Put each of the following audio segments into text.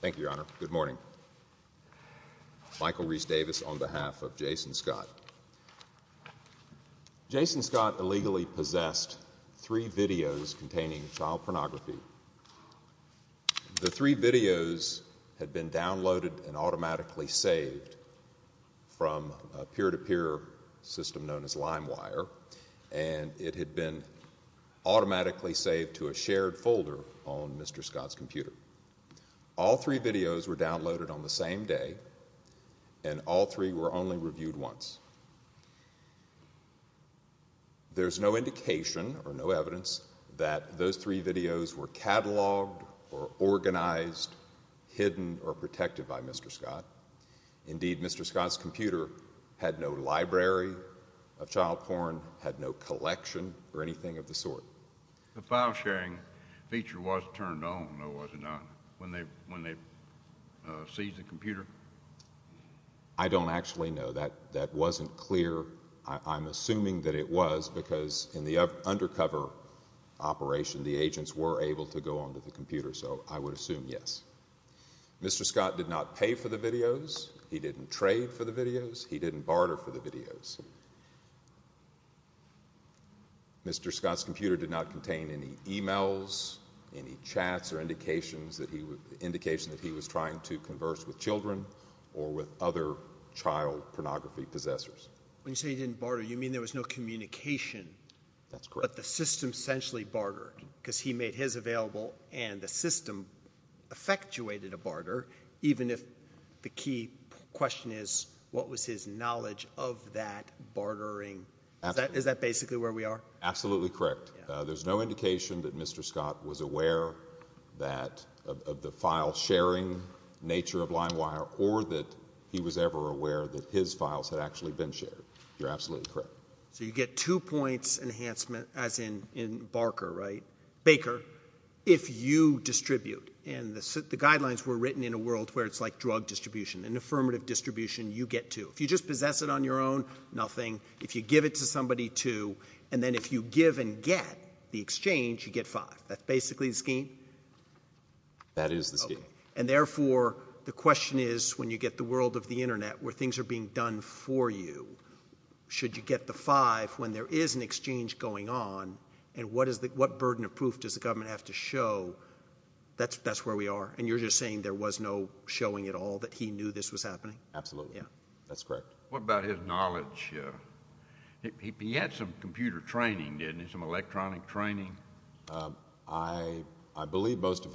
Thank you, Your Honor. Good morning. Michael Reese Davis on behalf of Jason Scott. Jason Scott illegally possessed three videos containing child pornography. The three videos had been downloaded and automatically saved from a peer-to-peer system known as LimeWire, and it had been automatically saved to a shared folder on Mr. Scott's computer. All three videos were downloaded on the same day, and all three were only reviewed once. There's no indication or no evidence that those three videos were cataloged or organized, hidden or protected by Mr. Scott. Indeed, Mr. Scott's computer had no library of child porn, had no collection or anything of the sort. I don't actually know. That wasn't clear. I'm assuming that it was, because in the undercover operation, the agents were able to go onto the computer, so I would assume yes. Mr. Scott did not pay for the videos. He didn't trade for the videos. He didn't barter for the videos. Mr. Scott's computer did not contain any emails, any chats or indications that he was trying to converse with children or with other child pornography possessors. When you say he didn't barter, you mean there was no communication, but the system essentially bartered, because he made his available and the system effectuated a barter, even if the key question is, what was his knowledge of that bartering? Is that basically where we are? Absolutely correct. There's no indication that Mr. Scott was aware of the file sharing nature of LimeWire or that he was ever aware that his files had actually been shared. You're absolutely correct. So you get two points enhancement, as in Barker, right? Baker, if you distribute, and the guidelines were written in a world where it's like drug distribution, an affirmative distribution, you get two. If you just possess it on your own, nothing. If you give it to somebody, two. And then if you give and get the exchange, you get five. That's basically the scheme? That is the scheme. And therefore, the question is, when you get the world of the internet, where things are being done for you, should you get the five when there is an exchange going on? And what is the, what burden of proof does the government have to show? That's, that's where we are. And you're just saying there was no showing at all that he knew this was happening? Absolutely. Yeah, that's correct. What about his knowledge? He had some computer training, didn't he? Some electronic training? I believe most of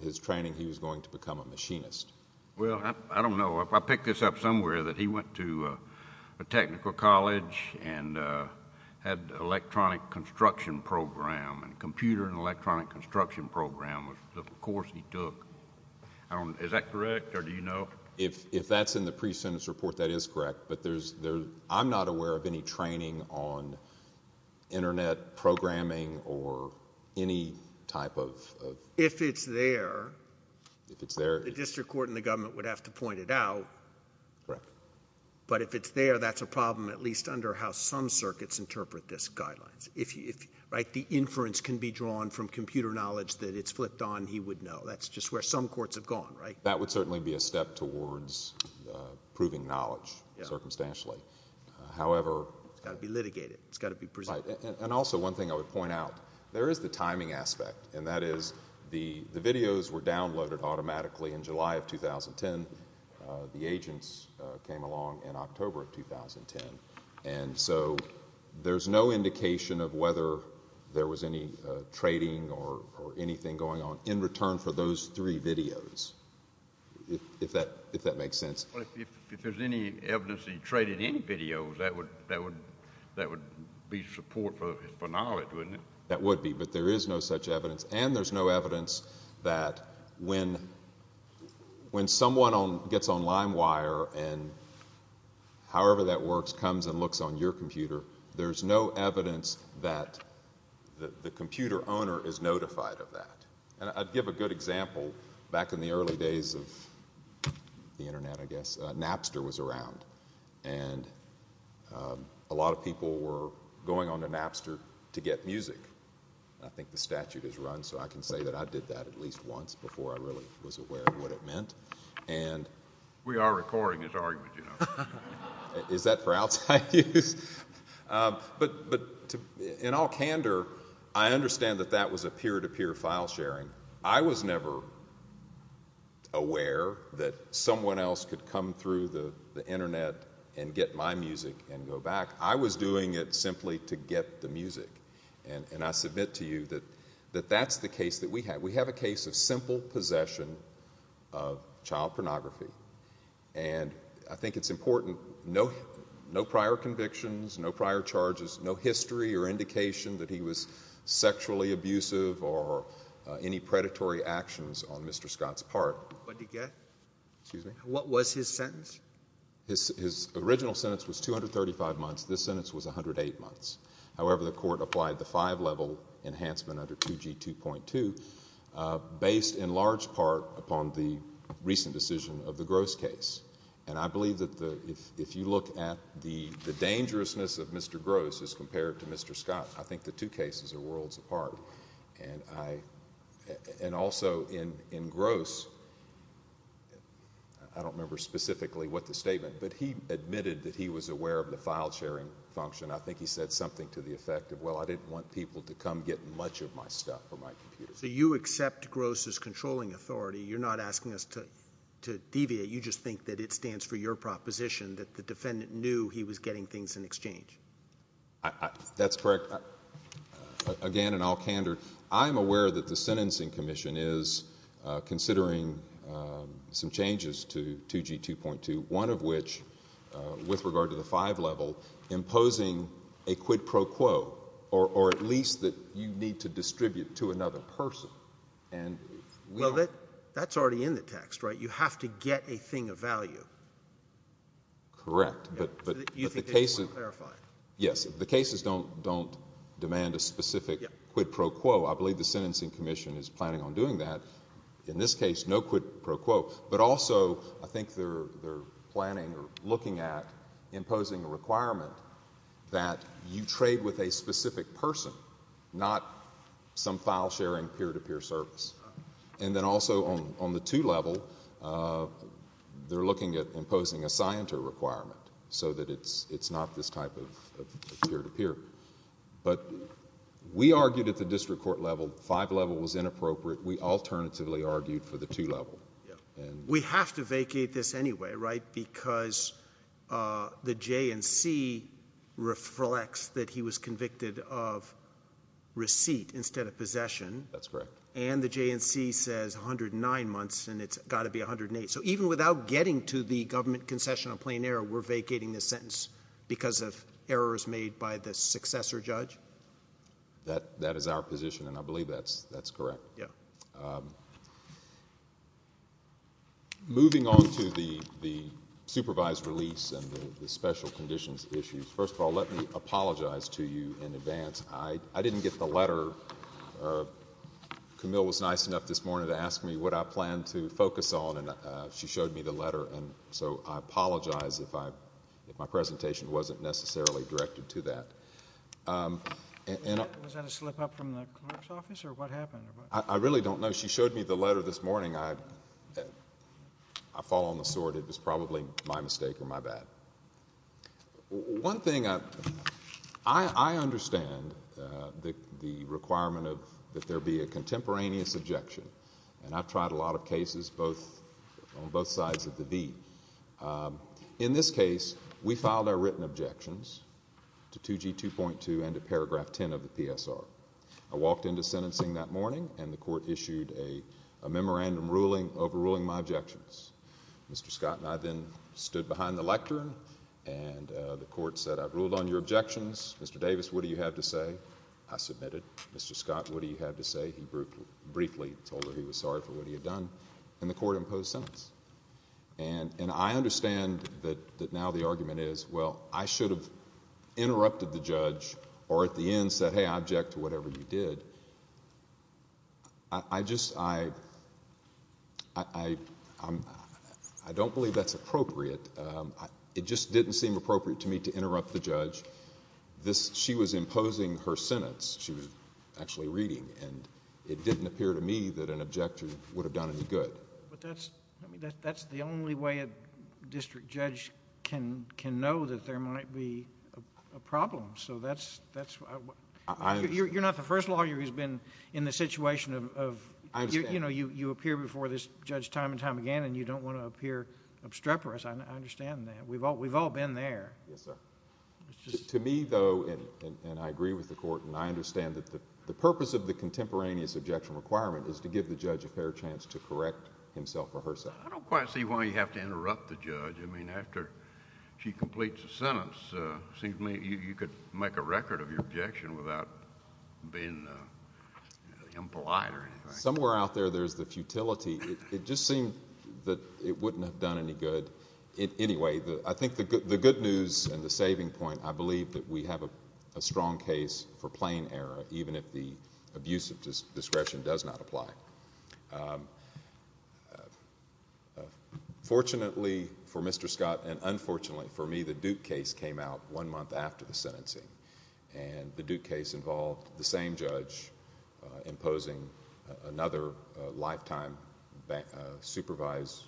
his training, he was going to become a machinist. Well, I don't know. I picked this up somewhere that he went to a technical college and had electronic construction program and computer and electronic construction program was the course he took. I don't, is that correct or do you know? If that's in the pre-sentence report, that is correct. But there's, I'm not aware of any training on internet programming or any type of. If it's there. If it's there. The district court and the government would have to point it out. But if it's there, that's a problem, at least under how some circuits interpret this guidelines. Right? The inference can be drawn from computer knowledge that it's flipped on, he would know. That's just where some courts have gone, right? That would certainly be a step towards proving knowledge circumstantially. However- It's got to be litigated. It's got to be presented. And also one thing I would point out, there is the timing aspect. And that is the videos were downloaded automatically in July of 2010. The agents came along in October of 2010. And so there's no indication of whether there was any trading or anything going on in return for those three videos. If that makes sense. If there's any evidence that he traded any videos, that would be support for knowledge, wouldn't it? That would be. But there is no such evidence. And there's no evidence that when someone gets on LimeWire and however that works, comes and looks on your computer, there's no evidence that the computer owner is notified of that. And I'd give a good example. Back in the early days of the Internet, I guess, Napster was around. And a lot of people were going on to Napster to get music. I think the statute is run, so I can say that I did that at least once before I really was We are recording this argument, you know. Is that for outside use? But in all candor, I understand that that was a peer-to-peer file sharing. I was never aware that someone else could come through the Internet and get my music and go back. I was doing it simply to get the music. And I submit to you that that's the case that we have. We have a case of simple possession of child pornography. And I think it's important, no prior convictions, no prior charges, no history or indication that he was sexually abusive or any predatory actions on Mr. Scott's part. What did he get? Excuse me? What was his sentence? His original sentence was 235 months. This sentence was 108 months. However, the court applied the five-level enhancement under 2G2.2 based in large part upon the recent decision of the Gross case. And I believe that if you look at the dangerousness of Mr. Gross as compared to Mr. Scott, I think the two cases are worlds apart. And also in Gross, I don't remember specifically what the statement, but he admitted that he was aware of the file sharing function. I think he said something to the effect of, well, I didn't want people to come get much of my stuff or my computer. So you accept Gross's controlling authority. You're not asking us to deviate. You just think that it stands for your proposition that the defendant knew he was getting things in exchange. That's correct. Again, in all candor, I'm aware that the Sentencing Commission is considering some changes to 2G2.2, one of which, with regard to the five-level, imposing a quid pro quo, or at least that you need to distribute to another person. Well, that's already in the text, right? You have to get a thing of value. Correct, but the cases don't demand a specific quid pro quo. I believe the Sentencing Commission is planning on doing that. In this case, no quid pro quo. But also, I think they're planning or looking at imposing a requirement that you trade with a specific person, not some file-sharing peer-to-peer service. And then also, on the two-level, they're looking at imposing a scienter requirement so that it's not this type of peer-to-peer. But we argued at the district court level, five-level was inappropriate. We alternatively argued for the two-level. We have to vacate this anyway, right? Because the J&C reflects that he was convicted of receipt instead of possession. That's correct. And the J&C says 109 months, and it's got to be 108. So even without getting to the government concession on plain error, we're vacating this sentence because of errors made by the successor judge? That is our position, and I believe that's correct. Moving on to the supervised release and the special conditions issues, first of all, let me apologize to you in advance. I didn't get the letter. Camille was nice enough this morning to ask me what I planned to focus on, and she showed me the letter. And so I apologize if my presentation wasn't necessarily directed to that. Was that a slip-up from the clerk's office, or what happened? I really don't know. She showed me the letter this morning. I fall on the sword. It was probably my mistake or my bad. One thing I understand, the requirement that there be a contemporaneous objection, and I've tried a lot of cases on both sides of the V. In this case, we filed our written objections to 2G2.2 and to paragraph 10 of the PSR. I walked into sentencing that morning, and the court issued a memorandum overruling my objections. Mr. Scott and I then stood behind the lectern, and the court said, I've ruled on your objections. Mr. Davis, what do you have to say? I submitted. Mr. Scott, what do you have to say? He briefly told her he was sorry for what he had done, and the court imposed sentence. And I understand that now the argument is, well, I should have interrupted the judge or at the end said, hey, I object to whatever you did. I just... I don't believe that's appropriate. It just didn't seem appropriate to me to interrupt the judge. She was imposing her sentence. She was actually reading, and it didn't appear to me that an objection would have done any good. But that's the only way a district judge can know that there might be a problem. So that's... I understand. You're not the first lawyer who's been in the situation of... I understand. You appear before this judge time and time again, and you don't want to appear obstreperous. I understand that. We've all been there. Yes, sir. It's just... To me, though, and I agree with the court, and I understand that the purpose of the contemporaneous objection requirement is to give the judge a fair chance to correct himself or herself. I don't quite see why you have to interrupt the judge. I mean, after she completes a sentence, it seems to me you could make a record of your objection without being impolite or anything. Somewhere out there, there's the futility. It just seemed that it wouldn't have done any good. Anyway, I think the good news and the saving point, I believe that we have a strong case for plain error, even if the abuse of discretion does not apply. Fortunately for Mr. Scott, and unfortunately for me, the Duke case came out one month after the sentencing, and the Duke case involved the same judge imposing another lifetime supervised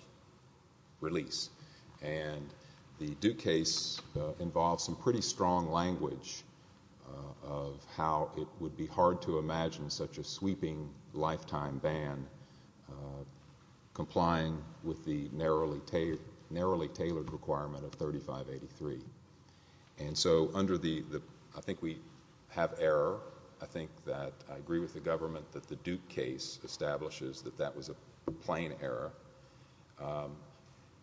release. And the Duke case involved some pretty strong language of how it would be hard to imagine such a sweeping lifetime ban complying with the narrowly tailored requirement of 3583. And so I think we have error. I think that I agree with the government that the Duke case establishes that that was a plain error.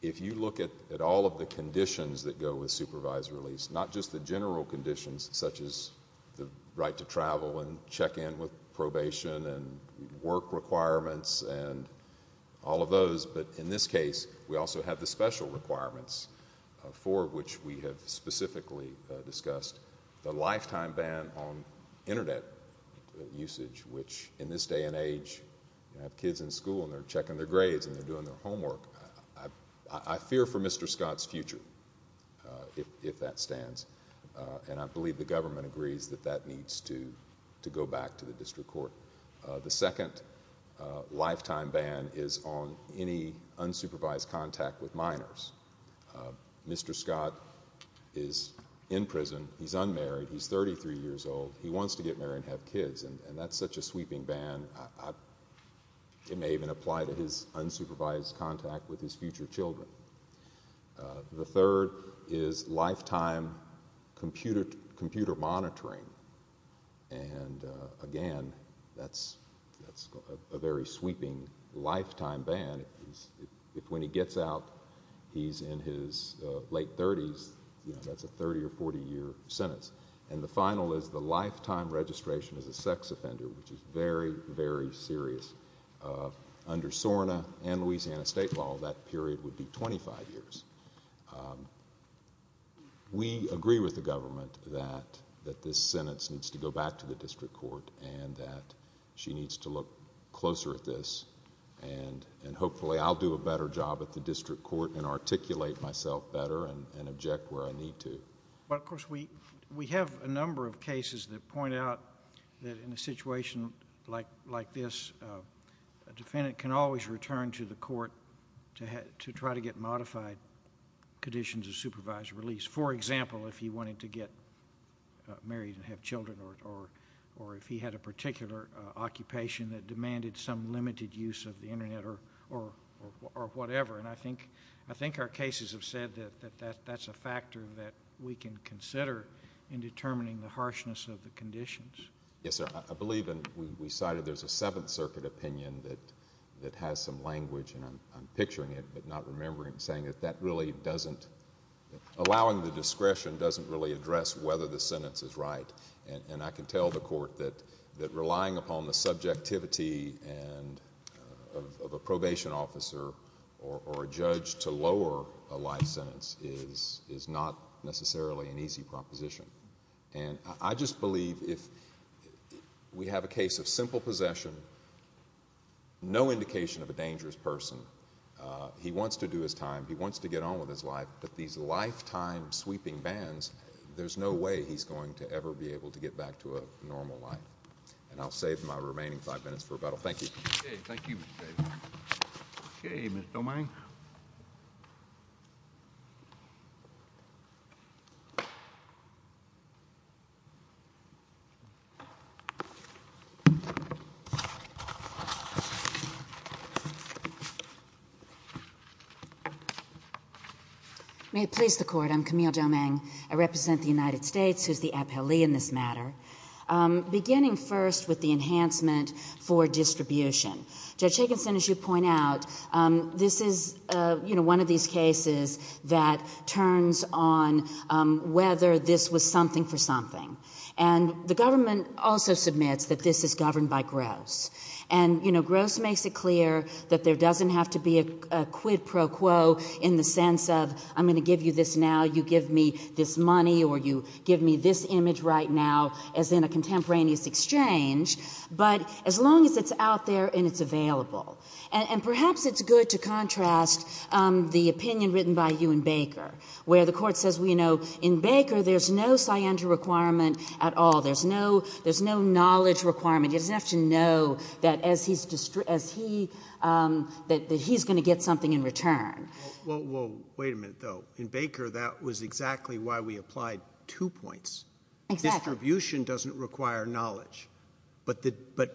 If you look at all of the conditions that go with supervised release, not just the general conditions such as the right to travel and check in with probation and work requirements and all of those, but in this case, we also have the special requirements for which we have specifically discussed the lifetime ban on Internet usage, which in this day and age, you have kids in school and they're checking their grades and they're doing their homework. I fear for Mr. Scott's future, if that stands. And I believe the government agrees that that needs to go back to the district court. The second lifetime ban is on any unsupervised contact with minors. Mr. Scott is in prison. He's unmarried. He's 33 years old. He wants to get married and have kids, and that's such a sweeping ban, it may even apply to his unsupervised contact with his future children. The third is lifetime computer monitoring. And again, that's a very sweeping lifetime ban. If when he gets out, he's in his late 30s, that's a 30- or 40-year sentence. And the final is the lifetime registration as a sex offender, which is very, very serious. Under SORNA and Louisiana state law, that period would be 25 years. We agree with the government that this sentence needs to go back to the district court and that she needs to look closer at this, and hopefully I'll do a better job at the district court and articulate myself better and object where I need to. But of course, we have a number of cases that point out that in a situation like this, a defendant can always return to the court to try to get modified conditions of supervised release. For example, if he wanted to get married and have children or if he had a particular occupation that demanded some limited use of the Internet or whatever. And I think our cases have said that that's a factor that we can consider in determining the harshness of the conditions. Yes, sir. I believe we cited there's a Seventh Circuit opinion that has some language, and I'm picturing it, but not remembering saying that that really doesn't... Allowing the discretion doesn't really address whether the sentence is right. And I can tell the court that relying upon the subjectivity of a probation officer or a judge to lower a life sentence is not necessarily an easy proposition. And I just believe if we have a case of simple possession, no indication of a dangerous person, he wants to do his time, he wants to get on with his life, but these lifetime-sweeping bans, there's no way he's going to ever be able to get back to a normal life. And I'll save my remaining five minutes for rebuttal. Thank you. Okay, thank you, Mr. Davis. Okay, Ms. Domingue. May it please the court. I'm Camille Domingue. I represent the United States, who's the appellee in this matter. Beginning first with the enhancement for distribution. Judge Higginson, as you point out, this is, you know, one of these cases who had a life sentence. And I think it's important And the government also submits that this is governed by gross. And, you know, gross makes it clear that there doesn't have to be a quid pro quo in the sense of I'm going to give you this now, you give me this money or you give me this image right now as in a contemporaneous exchange. But as long as it's out there and it's available. And perhaps it's good to contrast the opinion written by Ewan Baker where the court says, you know, in Baker, there's no scientific requirement at all. There's no knowledge requirement. He doesn't have to know that he's going to get something in return. Well, wait a minute, though. In Baker, that was exactly why we applied two points. Distribution doesn't require knowledge. But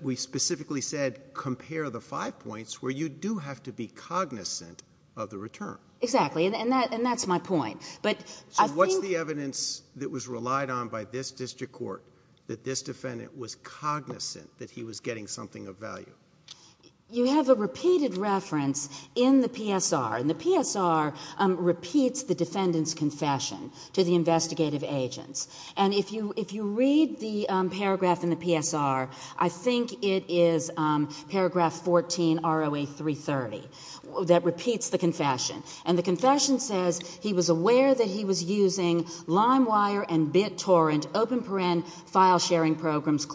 we specifically said compare the five points where you do have to be cognizant of the return. Exactly. And that's my point. So what's the evidence that was relied on by this district court that this defendant was cognizant that he was getting something of value? You have a repeated reference in the PSR and the PSR repeats the defendant's confession to the investigative agents. And if you read the paragraph in the PSR, I think it is paragraph 14 ROA 330 that repeats the confession. And the confession says he was aware that he was using LimeWire and BitTorrent file-sharing programs.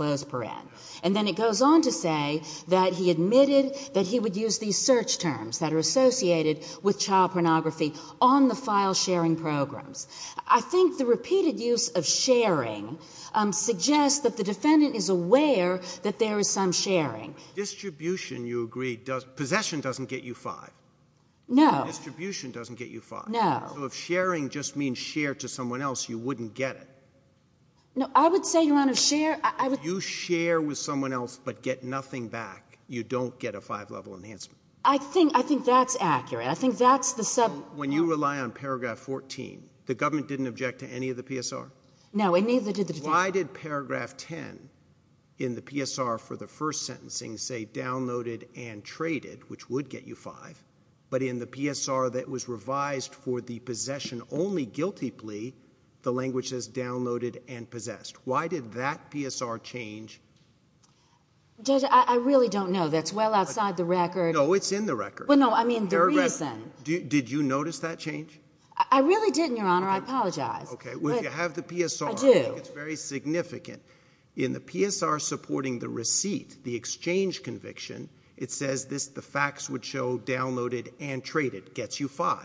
And then it goes on to say that he admitted that he would use these search terms that are associated with child pornography on the file-sharing programs. I think the repeated use of sharing suggests that the defendant is aware that there is some sharing. Distribution, you agree, possession doesn't get you 5. Distribution doesn't get you 5. So if sharing just means share to someone else, you wouldn't get it. No, I would say, Your Honor, share You share with someone else but get nothing back. You don't get a 5-level enhancement. I think that's accurate. When you rely on paragraph 14, the government didn't object to any of the PSR? No, it neither did the defendant. Why did paragraph 10 in the PSR for the first sentencing say downloaded and traded which would get you 5 but in the PSR that was revised for the possession only guilty plea the language says downloaded and possessed. Why did that PSR change? Judge, I really don't know. That's well outside the record. No, it's in the record. Did you notice that change? I really didn't, Your Honor. I apologize. You have the PSR. It's very significant. In the PSR supporting the receipt the exchange conviction it says the facts would show downloaded and traded gets you 5.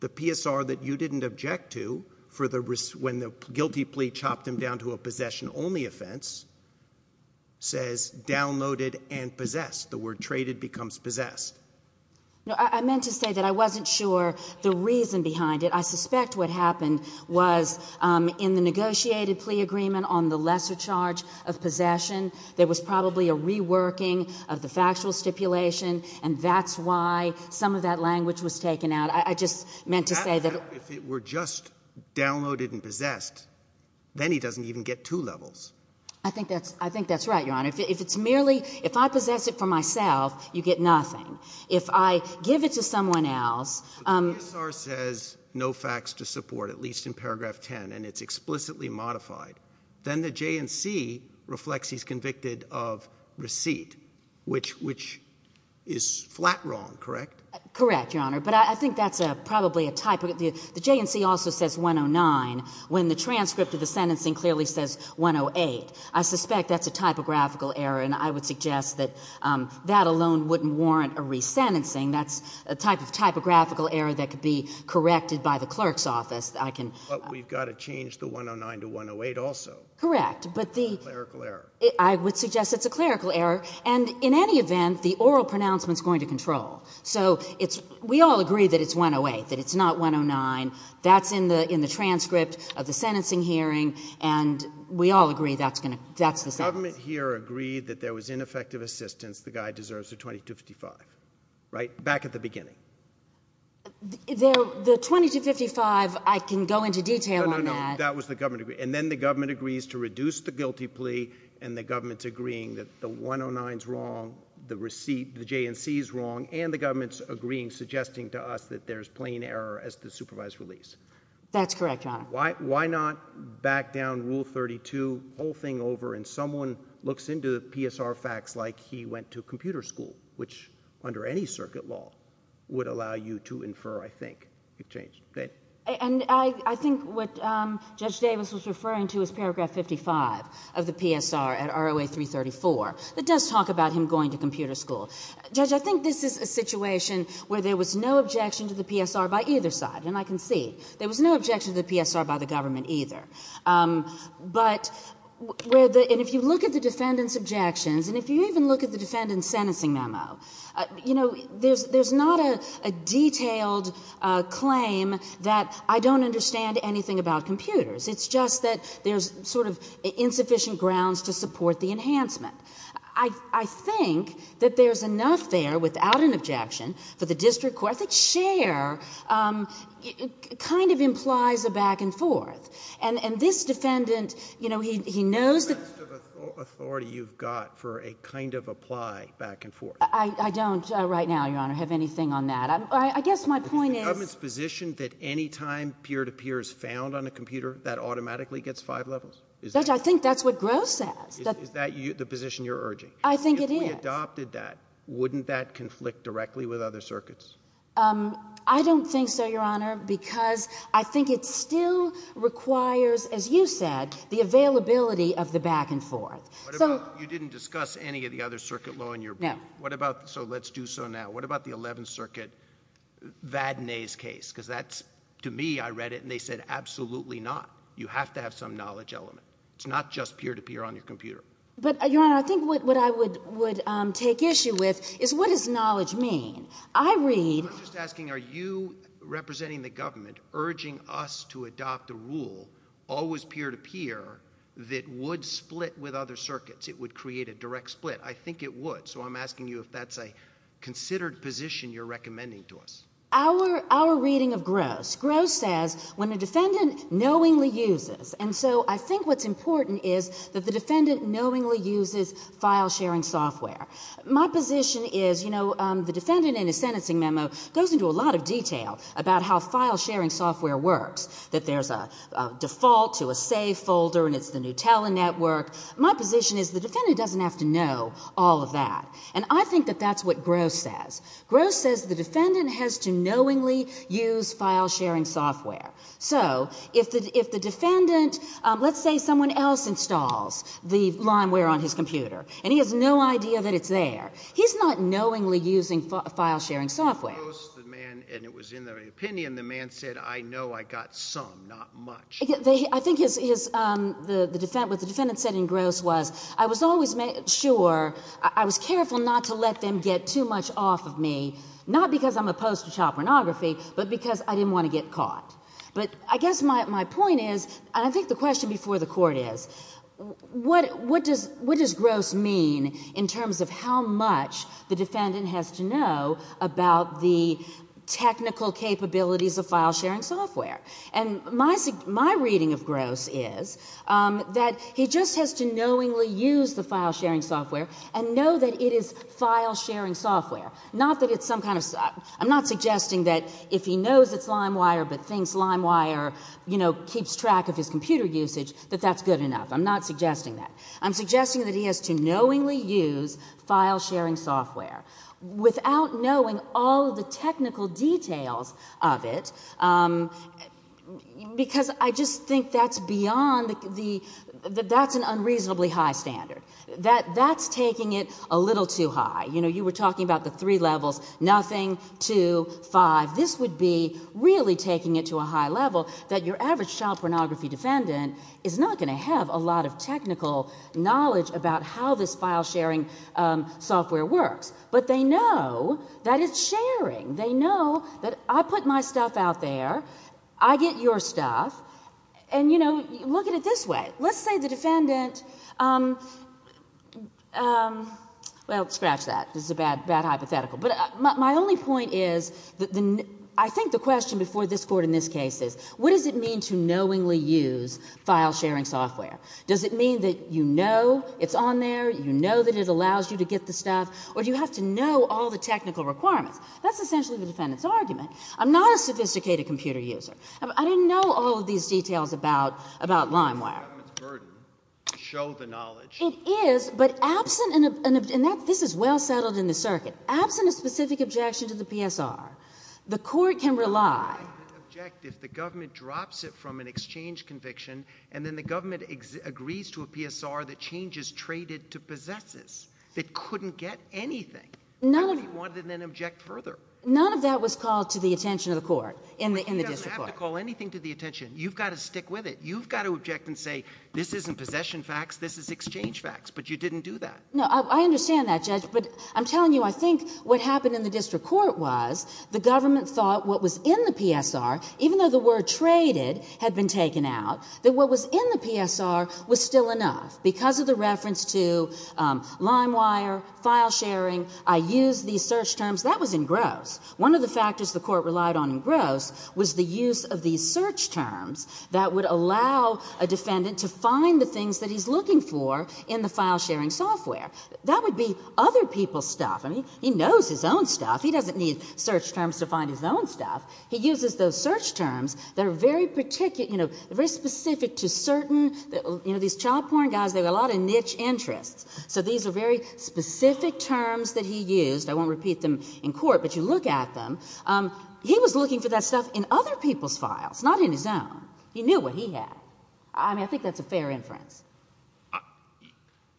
The PSR that you didn't object to when the guilty plea chopped him down to a possession only offense says downloaded and possessed. The word traded becomes possessed. I meant to say that I wasn't sure the reason behind it. I suspect what happened was in the negotiated plea agreement on the lesser charge of possession there was probably a reworking of the factual stipulation and that's why some of that language was taken out. If it were just downloaded and possessed then he doesn't even get 2 levels. I think that's right, Your Honor. If I possess it for myself you get nothing. If I give it to someone else The PSR says no facts to support, at least in paragraph 10 and it's explicitly modified then the JNC reflects he's convicted of receipt which is flat wrong, correct? Correct, Your Honor. The JNC also says 109 when the transcript of the sentencing clearly says 108. I suspect that's a typographical error and I would suggest that that alone wouldn't warrant a resentencing that's a type of typographical error that could be corrected by the clerk's office. But we've got to change the 109 to 108 also. Correct. I would suggest it's a clerical error and in any event the oral pronouncement is going to control. We all agree that it's 108, that it's not 109. That's in the transcript of the sentencing hearing and we all agree that's the sentence. The government here agreed that there was ineffective assistance the guy deserves a 2255. Right? Back at the beginning. The 2255 I can go into detail on that. No, no, no, that was the government and then the government agrees to reduce the guilty plea and the government's agreeing that the 109's wrong, the JNC's wrong and the government's agreeing suggesting to us that there's plain error as to supervised release. That's correct, Your Honor. Why not back down rule 32 the whole thing over and someone looks into PSR facts like he went to computer school which under any circuit law would allow you to infer I think. I think what Judge Davis was referring to is paragraph 55 of the PSR at ROA 334 that does talk about him going to computer school. Judge, I think this is a situation where there was no objection to the PSR by either side and I can see. There was no objection to the PSR by the government either. But if you look at the defendant's objections and if you even look at the defendant's sentencing memo, you know, there's not a detailed claim that I don't understand anything about computers. It's just that there's sort of insufficient grounds to support the enhancement. I think that there's enough there without an objection for the district court. I think share kind of implies a back and forth and this defendant you know, he knows that authority you've got for a kind of apply back and forth. I don't right now, Your Honor, have anything on that. I guess my point is. Is the government's position that any time peer-to-peer is found on a computer, that automatically gets five levels? Judge, I think that's what Groh says. Is that the position you're urging? I think it is. If we adopted that, wouldn't that conflict directly with other circuits? I don't think so, Your Honor, because I think it still requires, as you said, the availability of the back and forth. What about, you didn't discuss any of the other circuit law in your book. No. So let's do so now. What about the 11th Circuit, Vadnais case? Because that's, to me, I read it and they said, absolutely not. You have to have some knowledge element. It's not just peer-to-peer on your computer. But, Your Honor, I think what I would take issue with is what does knowledge mean? I read. I'm just asking are you representing the government urging us to adopt a rule, always peer-to-peer, that would split with other circuits? It would create a direct split. I think it would. So I'm asking you if that's a considered position you're recommending to us. Our reading of Groh's. Groh says when a defendant knowingly uses, and so I think what's important is that the defendant knowingly uses file sharing software. My position is, you know, the defendant in his sentencing memo goes into a lot of detail about how file sharing software works. That there's a default to a save folder and it's the Nutella network. My position is the defendant doesn't have to know all of that. And I think that that's what Groh says. Groh says the defendant has to knowingly use file sharing software. So, if the defendant, let's say someone else installs the Limeware on his computer and he has no idea that it's there, he's not knowingly using file sharing software. In Groh's, the man, and it was in their opinion, the man said, I know I got some, not much. I think what the defendant said in Groh's was, I was always sure, I was careful not to let them get too much off of me, not because I'm opposed to child pornography, but because I didn't want to get caught. But I guess my point is, and I think the question before the court is, what does Groh's mean in terms of how much the technical capabilities of file sharing software. And my reading of Groh's is that he just has to knowingly use the file sharing software and know that it is file sharing software. Not that it's some kind of, I'm not suggesting that if he knows it's Limewire, but thinks Limewire, you know, keeps track of his computer usage, that that's good enough. I'm not suggesting that. I'm suggesting that he has to knowingly use file sharing software without knowing all the technical details of it, because I just think that's beyond the, that's an unreasonably high standard. That's taking it a little too high. You know, you were talking about the three levels, nothing, two, five. This would be really taking it to a high level that your average child pornography defendant is not going to have a lot of technical knowledge about how this file sharing software works. But they know that it's sharing. They know that I put my stuff out there, I get your stuff, and you know, look at it this way. Let's say the defendant um, um, well, scratch that. This is a bad hypothetical. But my only point is, I think the question before this court in this case is, what does it mean to knowingly use file sharing software? Does it mean that you know it's on there, you know that it allows you to get the stuff, or do you have to know all the technical requirements? That's essentially the defendant's argument. I'm not a sophisticated computer user. I didn't know all of these details about, about LimeWire. It is, but absent an, and that, this is well settled in the circuit. Absent a specific objection to the PSR, the court can rely. If the government drops it from an exchange conviction, and then the government agrees to a PSR that changes traded to possesses, it couldn't get anything. Nobody wanted to then object further. None of that was called to the attention of the court in the district court. But you don't have to call anything to the attention. You've got to stick with it. You've got to object and say, this isn't possession facts, this is exchange facts, but you didn't do that. No, I understand that, Judge, but I'm telling you, I think what happened in the district court was, the government thought what was in the PSR, even though the word traded had been in the PSR, was still enough. Because of the reference to LimeWire, file sharing, I used these search terms. That was in Gross. One of the factors the court relied on in Gross was the use of these search terms that would allow a defendant to find the things that he's looking for in the file sharing software. That would be other people's stuff. I mean, he knows his own stuff. He doesn't need search terms to find his own stuff. He uses those search terms that are very particular, you know, very specific to certain, you know, these child porn guys, they have a lot of niche interests. So these are very specific terms that he used. I won't repeat them in court, but you look at them. He was looking for that stuff in other people's files, not in his own. He knew what he had. I mean, I think that's a fair inference.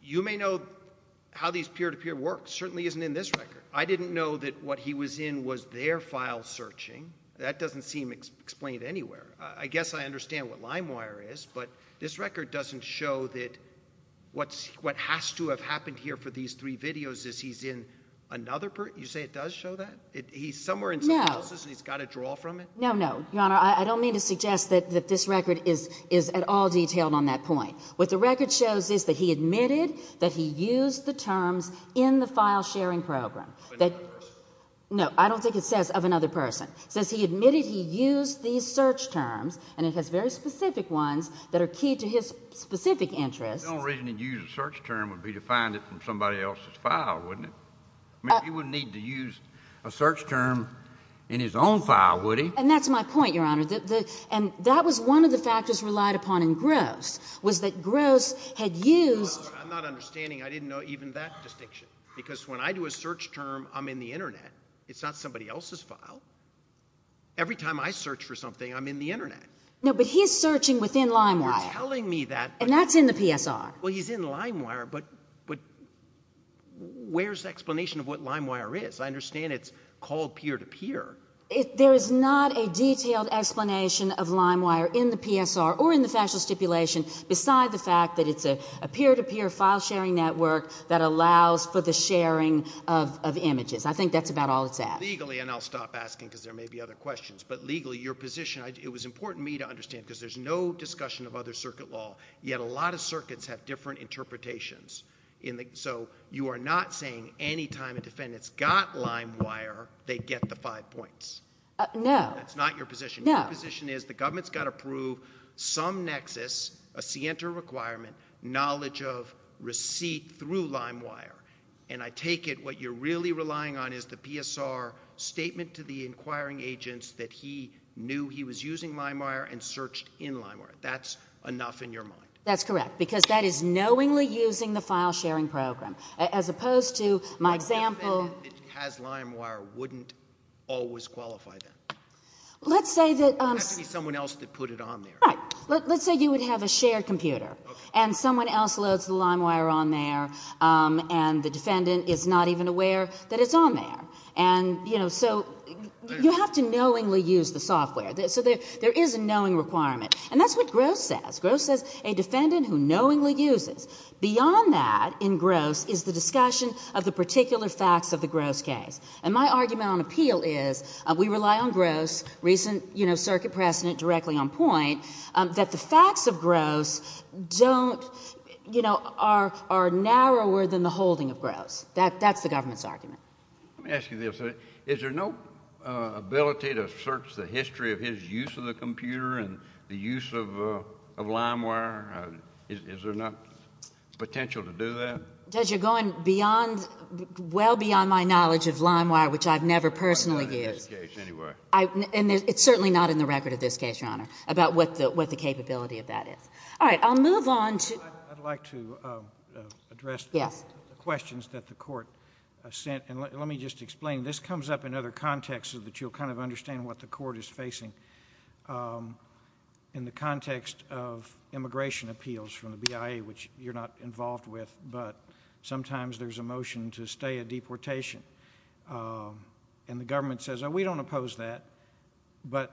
You may know how these peer-to-peer works. Certainly isn't in this record. I didn't know that what he was in was their file searching. That doesn't seem explained anywhere. I guess I understand what LimeWire is, but this record doesn't show that what has to have happened here for these three videos is he's in another person. You say it does show that? He's somewhere else and he's got a draw from it? No, no. Your Honor, I don't mean to suggest that this record is at all detailed on that point. What the record shows is that he admitted that he used the terms in the file sharing program. No, I don't think it says of another person. It says he admitted he used these search terms, and it has very specific ones that are key to his specific interests. The only reason he'd use a search term would be to find it in somebody else's file, wouldn't it? He wouldn't need to use a search term in his own file, would he? And that's my point, Your Honor. And that was one of the factors relied upon in Gross, was that Gross had used... I'm not understanding. I didn't know even that distinction. Because when I do a search term, I'm in the Internet. It's not somebody else's file. Every time I search for something, I'm in the Internet. No, but he's searching within LimeWire. You're telling me that... And that's in the PSR. Well, he's in LimeWire, but where's the explanation of what LimeWire is? I understand it's called peer-to-peer. There is not a detailed explanation of LimeWire in the PSR or in the factual stipulation, beside the fact that it's a peer-to-peer file sharing network that allows for the sharing of images. I think that's about all it's asked. Legally, and I'll stop asking, because there may be other questions, but legally, your position... It was important for me to understand, because there's no discussion of other circuit law, yet a lot of circuits have different interpretations. So, you are not saying any time a defendant's got LimeWire, they get the five points. No. That's not your position. Your position is, the government's got to prove some nexus, a scienter requirement, knowledge of LimeWire, and I take it what you're really relying on is the PSR statement to the inquiring agents that he knew he was using LimeWire and searched in LimeWire. That's enough in your mind. That's correct, because that is knowingly using the file sharing program, as opposed to my example... A defendant that has LimeWire wouldn't always qualify, then. Let's say that... It would have to be someone else that put it on there. Right. Let's say you would have a shared computer, and someone else loads the LimeWire on there, and the defendant is not even aware that it's on there. So, you have to knowingly use the software. So, there is a knowing requirement. And that's what Gross says. Gross says, a defendant who knowingly uses, beyond that in Gross, is the discussion of the particular facts of the Gross case. And my argument on appeal is, we rely on Gross, recent circuit precedent, directly on point, that the facts of Gross don't, you know, are narrower than the holding of Gross. That's the government's argument. Let me ask you this. Is there no ability to search the history of his use of the computer and the use of LimeWire? Is there not potential to do that? Judge, you're going beyond, well beyond my knowledge of LimeWire, which I've never personally used. And it's certainly not in the record of this case, Your Honor, about what the capability of that is. All right, I'll move on to... I'd like to address the questions that the Court sent. And let me just explain. This comes up in other contexts so that you'll kind of understand what the Court is facing. In the context of immigration appeals from the BIA, which you're not involved with, but sometimes there's a motion to stay a deportation. And the government says, oh, we don't oppose that. But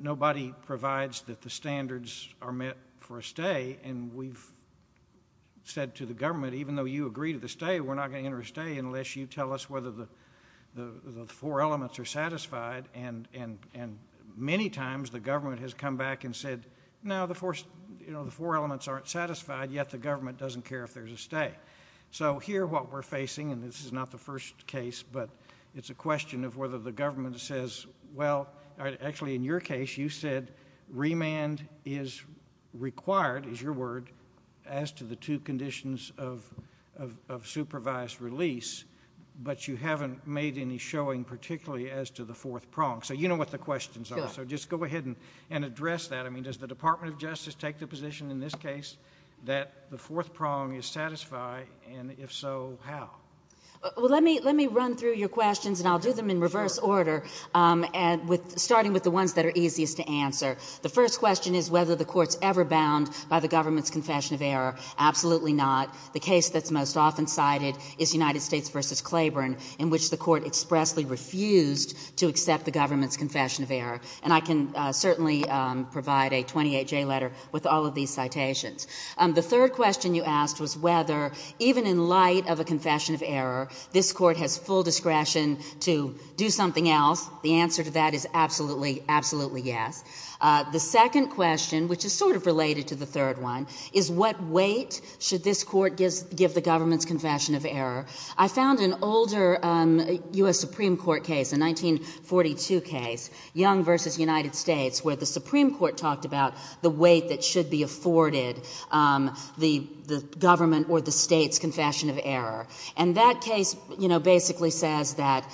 nobody provides that the standards are met for a stay. And we've said to the government, even though you agree to the stay, we're not going to enter a stay unless you tell us whether the four elements are satisfied. And many times, the government has come back and said, no, the four elements aren't satisfied, yet the government doesn't care if there's a stay. So here, what we're facing, and this is not the first case, but it's a question of whether the government says, well, actually, in your case, you said remand is required, is your word, as to the two conditions of supervised release, but you haven't made any showing, particularly as to the fourth prong. So you know what the questions are. So just go ahead and address that. I mean, does the Department of Justice take the position in this case that the fourth prong is satisfied? And if so, how? Well, let me run through your questions in this order, starting with the ones that are easiest to answer. The first question is whether the Court's ever bound by the government's confession of error. Absolutely not. The case that's most often cited is United States v. Claiborne, in which the Court expressly refused to accept the government's confession of error. And I can certainly provide a 28-J letter with all of these citations. The third question you asked was whether, even in light of a confession of error, this Court has full discretion to do something else. The answer to that is absolutely, absolutely yes. The second question, which is sort of related to the third one, is what weight should this Court give the government's confession of error? I found an older U.S. Supreme Court case, a 1942 case, Young v. United States, where the Supreme Court talked about the weight that should be afforded the government or the state's confession of error. And that case basically says that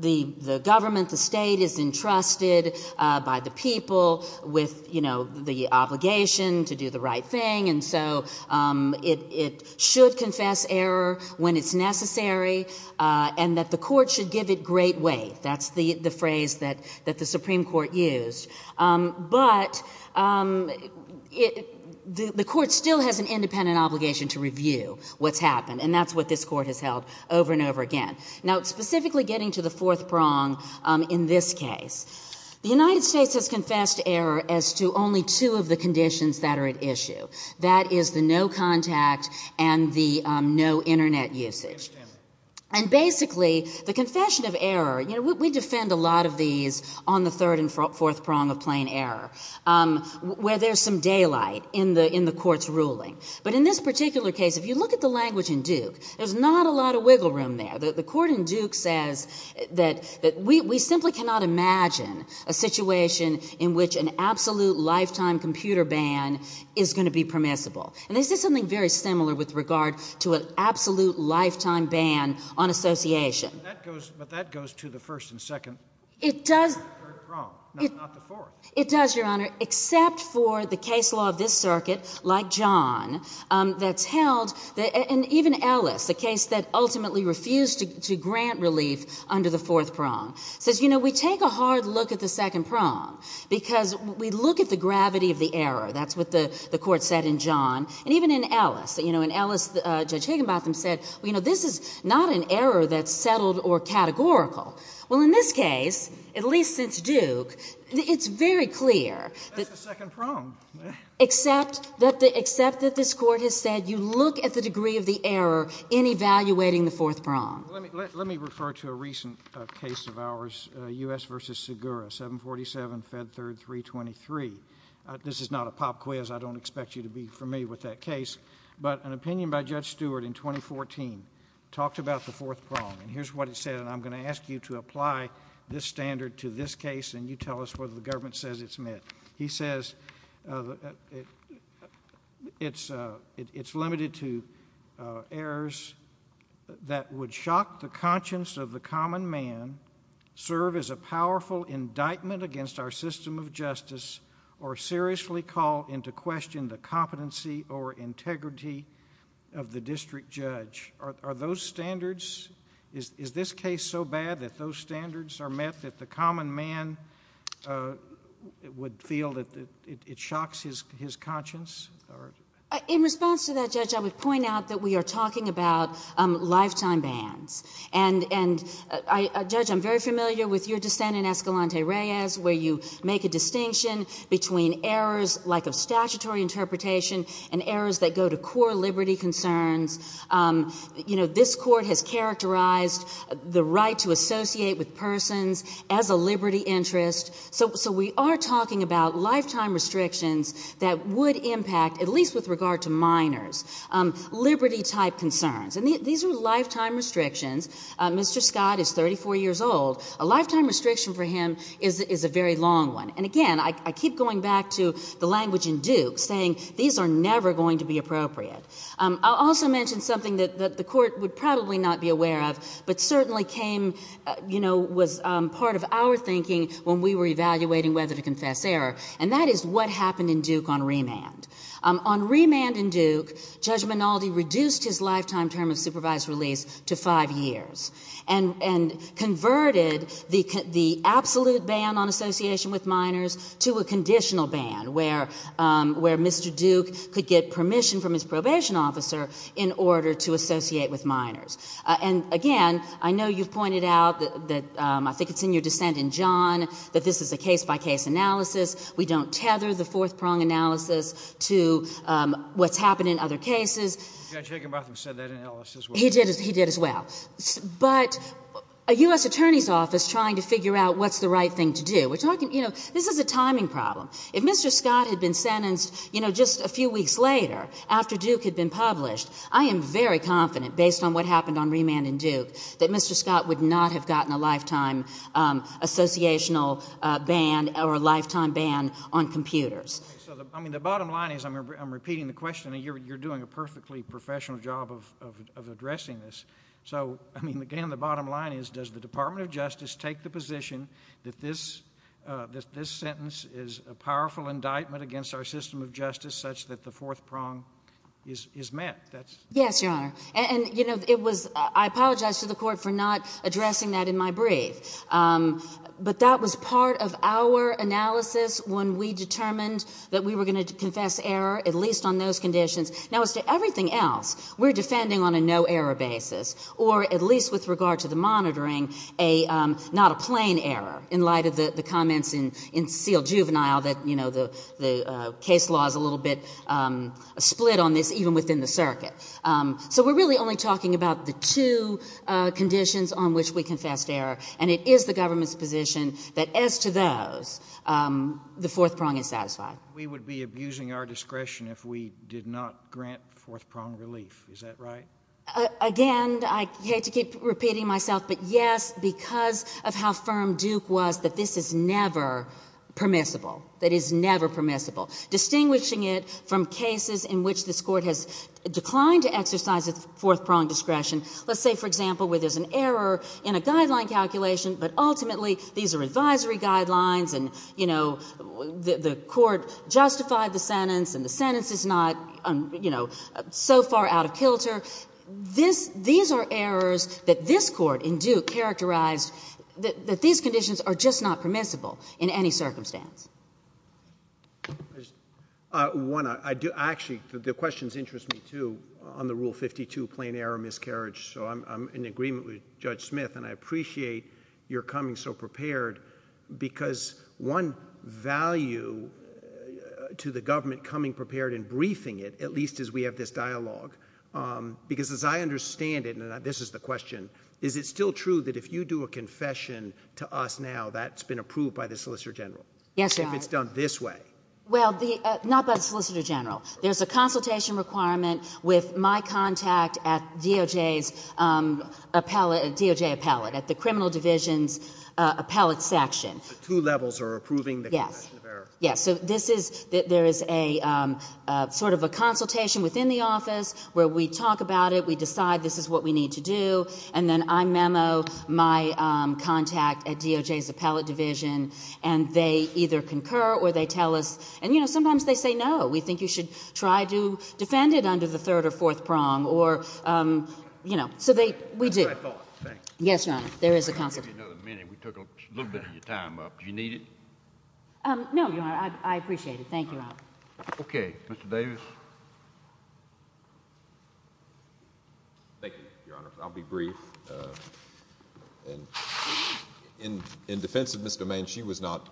the government, the state, is entrusted by the people with the obligation to do the right thing, and so it should confess error when it's necessary, and that the Court should give it great weight. That's the phrase that the Supreme Court used. But the Court still has an independent obligation to review what's happened, and that's what this Court has held over and over again. Now, specifically getting to the fourth prong in this case, the United States has confessed error as to only two of the conditions that are at issue. That is the no contact and the no Internet usage. And basically, the confession of error, you know, we defend a lot of these on the third and fourth prong of plain error, where there's some daylight in the Court's ruling. But in this particular case, if you look at the language in Duke, there's not a lot of wiggle room there. The Court in Duke says that we simply cannot imagine a situation in which an absolute lifetime computer ban is going to be permissible. And they said something very similar with regard to an absolute lifetime ban on association. But that goes to the first and second prong, not the fourth. It does, Your Honor, except for the case law of this circuit, like John, that's held, and even Ellis, the case that ultimately refused to grant relief under the fourth prong, says, you know, we take a hard look at the second prong, because we look at the gravity of the error. That's what the Court said in John, and even in Ellis. You know, in Ellis, Judge Higginbotham said, you know, this is not an error that's settled or categorical. Well, in this case, at least since Duke, it's very clear. That's the second prong. Except that this Court has said you look at the degree of the error in evaluating the fourth prong. Let me refer to a recent case of ours, U.S. v. Segura, 747 Fed Third 323. This is not a pop quiz. I don't expect you to be familiar with that case. But an opinion by Judge Stewart in 2014 talked about the fourth prong. And here's what it said, and I'm going to ask you to apply this standard to this case, and you tell us whether the government says it's met. He says it's limited to errors that would shock the conscience of the common man, serve as a powerful indictment against our system of justice, or seriously call into question the competency or integrity of the district judge. Are those standards, is this case so bad that those standards are met that the common man would feel that it shocks his conscience? In response to that, Judge, I would point out that we are talking about lifetime bans. And Judge, I'm very familiar with your dissent in Escalante Reyes, where you make a distinction between errors like a statutory interpretation and errors that go to core liberty concerns. You know, this Court has characterized the right to associate with persons as a liberty interest. So we are talking about lifetime restrictions that would impact, at least with regard to minors, liberty-type concerns. And these are lifetime restrictions. Mr. Scott is 34 years old. A lifetime restriction for him is a very long one. And again, I keep going back to the language in Duke, saying these are never going to be appropriate. I'll also mention something that the Court would probably not be aware of, but certainly came, you know, was part of our thinking when we were evaluating whether to confess error. And that is what happened in Duke on remand. On remand in Duke, Judge Minaldi reduced his lifetime term of supervised release to five years and converted the absolute ban on association with minors to a conditional ban where Mr. Duke could get permission from his probation officer in order to associate with minors. And again, I know you've pointed out that I think it's in your dissent in John, that this is a case-by-case analysis. We don't tether the fourth-prong analysis to what's happened in other cases. He did as well. But a U.S. Attorney's Office trying to figure out what's the right thing to do. This is a timing problem. If Mr. Scott had been sentenced, you know, just a few weeks later, after Duke had been published, I am very confident, based on what happened on remand in Duke, that Mr. Scott would not have gotten a lifetime associational ban or a lifetime ban on computers. I'm repeating the question. You're doing a perfectly professional job of addressing this. Again, the bottom line is, does the Department of Justice take the position that this is a judgment against our system of justice such that the fourth prong is met? Yes, Your Honor. I apologize to the Court for not addressing that in my brief. But that was part of our analysis when we determined that we were going to confess error, at least on those conditions. Now, as to everything else, we're defending on a no-error basis. Or at least with regard to the monitoring, not a plain error, in light of the comments in Seal Juvenile that the case law is a little bit split on this, even within the circuit. So we're really only talking about the two conditions on which we confess error. And it is the government's position that as to those, the fourth prong is satisfied. We would be abusing our discretion if we did not grant fourth prong relief. Is that right? Again, I hate to keep repeating myself, but yes, because of how these conditions are permissible. That is never permissible. Distinguishing it from cases in which this Court has declined to exercise its fourth prong discretion. Let's say, for example, where there's an error in a guideline calculation, but ultimately these are advisory guidelines, and the Court justified the sentence, and the sentence is not so far out of kilter. These are errors that this Court in Duke characterized that these conditions are just not permissible in any circumstance. Actually, the questions interest me too, on the Rule 52, plain error, miscarriage. So I'm in agreement with Judge Smith, and I appreciate your coming so prepared, because one value to the government coming prepared and briefing it, at least as we have this dialogue, because as I understand it, and this is the question, is it still true that if you do a confession to us now, that's been approved by the Solicitor General? If it's done this way? Well, not by the Solicitor General. There's a consultation requirement with my contact at DOJ's appellate, DOJ appellate, at the Criminal Division's appellate section. So two levels are approving the confession of error? Yes. So this is, there is a sort of a consultation within the office where we talk about it, we decide this is what we need to do, and then I memo my contact at DOJ's appellate division, and they either concur or they tell us, and you know, sometimes they say no, we think you should try to defend it under the third or fourth prong, or, you know, so they, we do. Yes, Your Honor, there is a consultation. We took a little bit of your time up. Do you need it? No, Your Honor, I appreciate it. Thank you, Robert. Okay. Mr. Davis? Thank you, Your Honor. I'll be brief. And in defense of Ms. Domain, she was not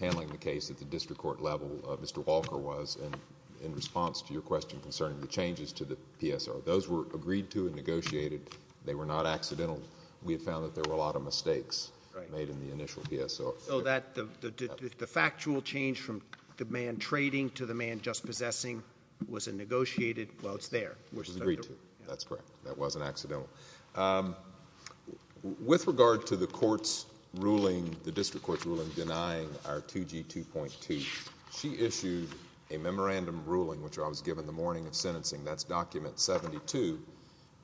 handling the case at the district court level. Mr. Walker was, and in response to your question concerning the changes to the PSO, those were agreed to and negotiated. They were not accidental. We had found that there were a lot of mistakes made in the initial PSO. So that, the factual change from the man trading to the man just possessing was a negotiated, well, it's there. It was agreed to. That's correct. That wasn't accidental. With regard to the court's ruling, the district court's ruling denying our 2G 2.2, she issued a memorandum ruling, which I was given the morning of sentencing. That's document 72,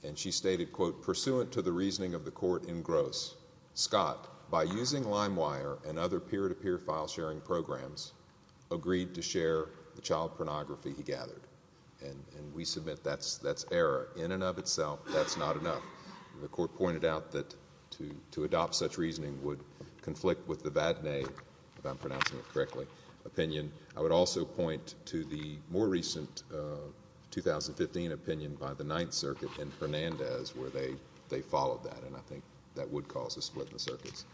and she stated, quote, pursuant to the reasoning of the court in Gross, Scott, by using LimeWire and other peer-to-peer file-sharing programs, agreed to share the child pornography he gathered. And we submit that's error in and of itself. That's not enough. The court pointed out that to adopt such reasoning would conflict with the Vatnay, if I'm pronouncing it correctly, opinion. I would also point to the more recent 2015 opinion by the Ninth Circuit and Hernandez, where they followed that, and I think that would cause a split in the circuits.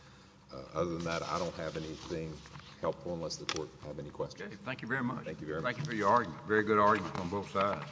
Other than that, I don't have anything helpful unless the court have any questions. Thank you very much. Thank you for your argument. Very good argument on both sides.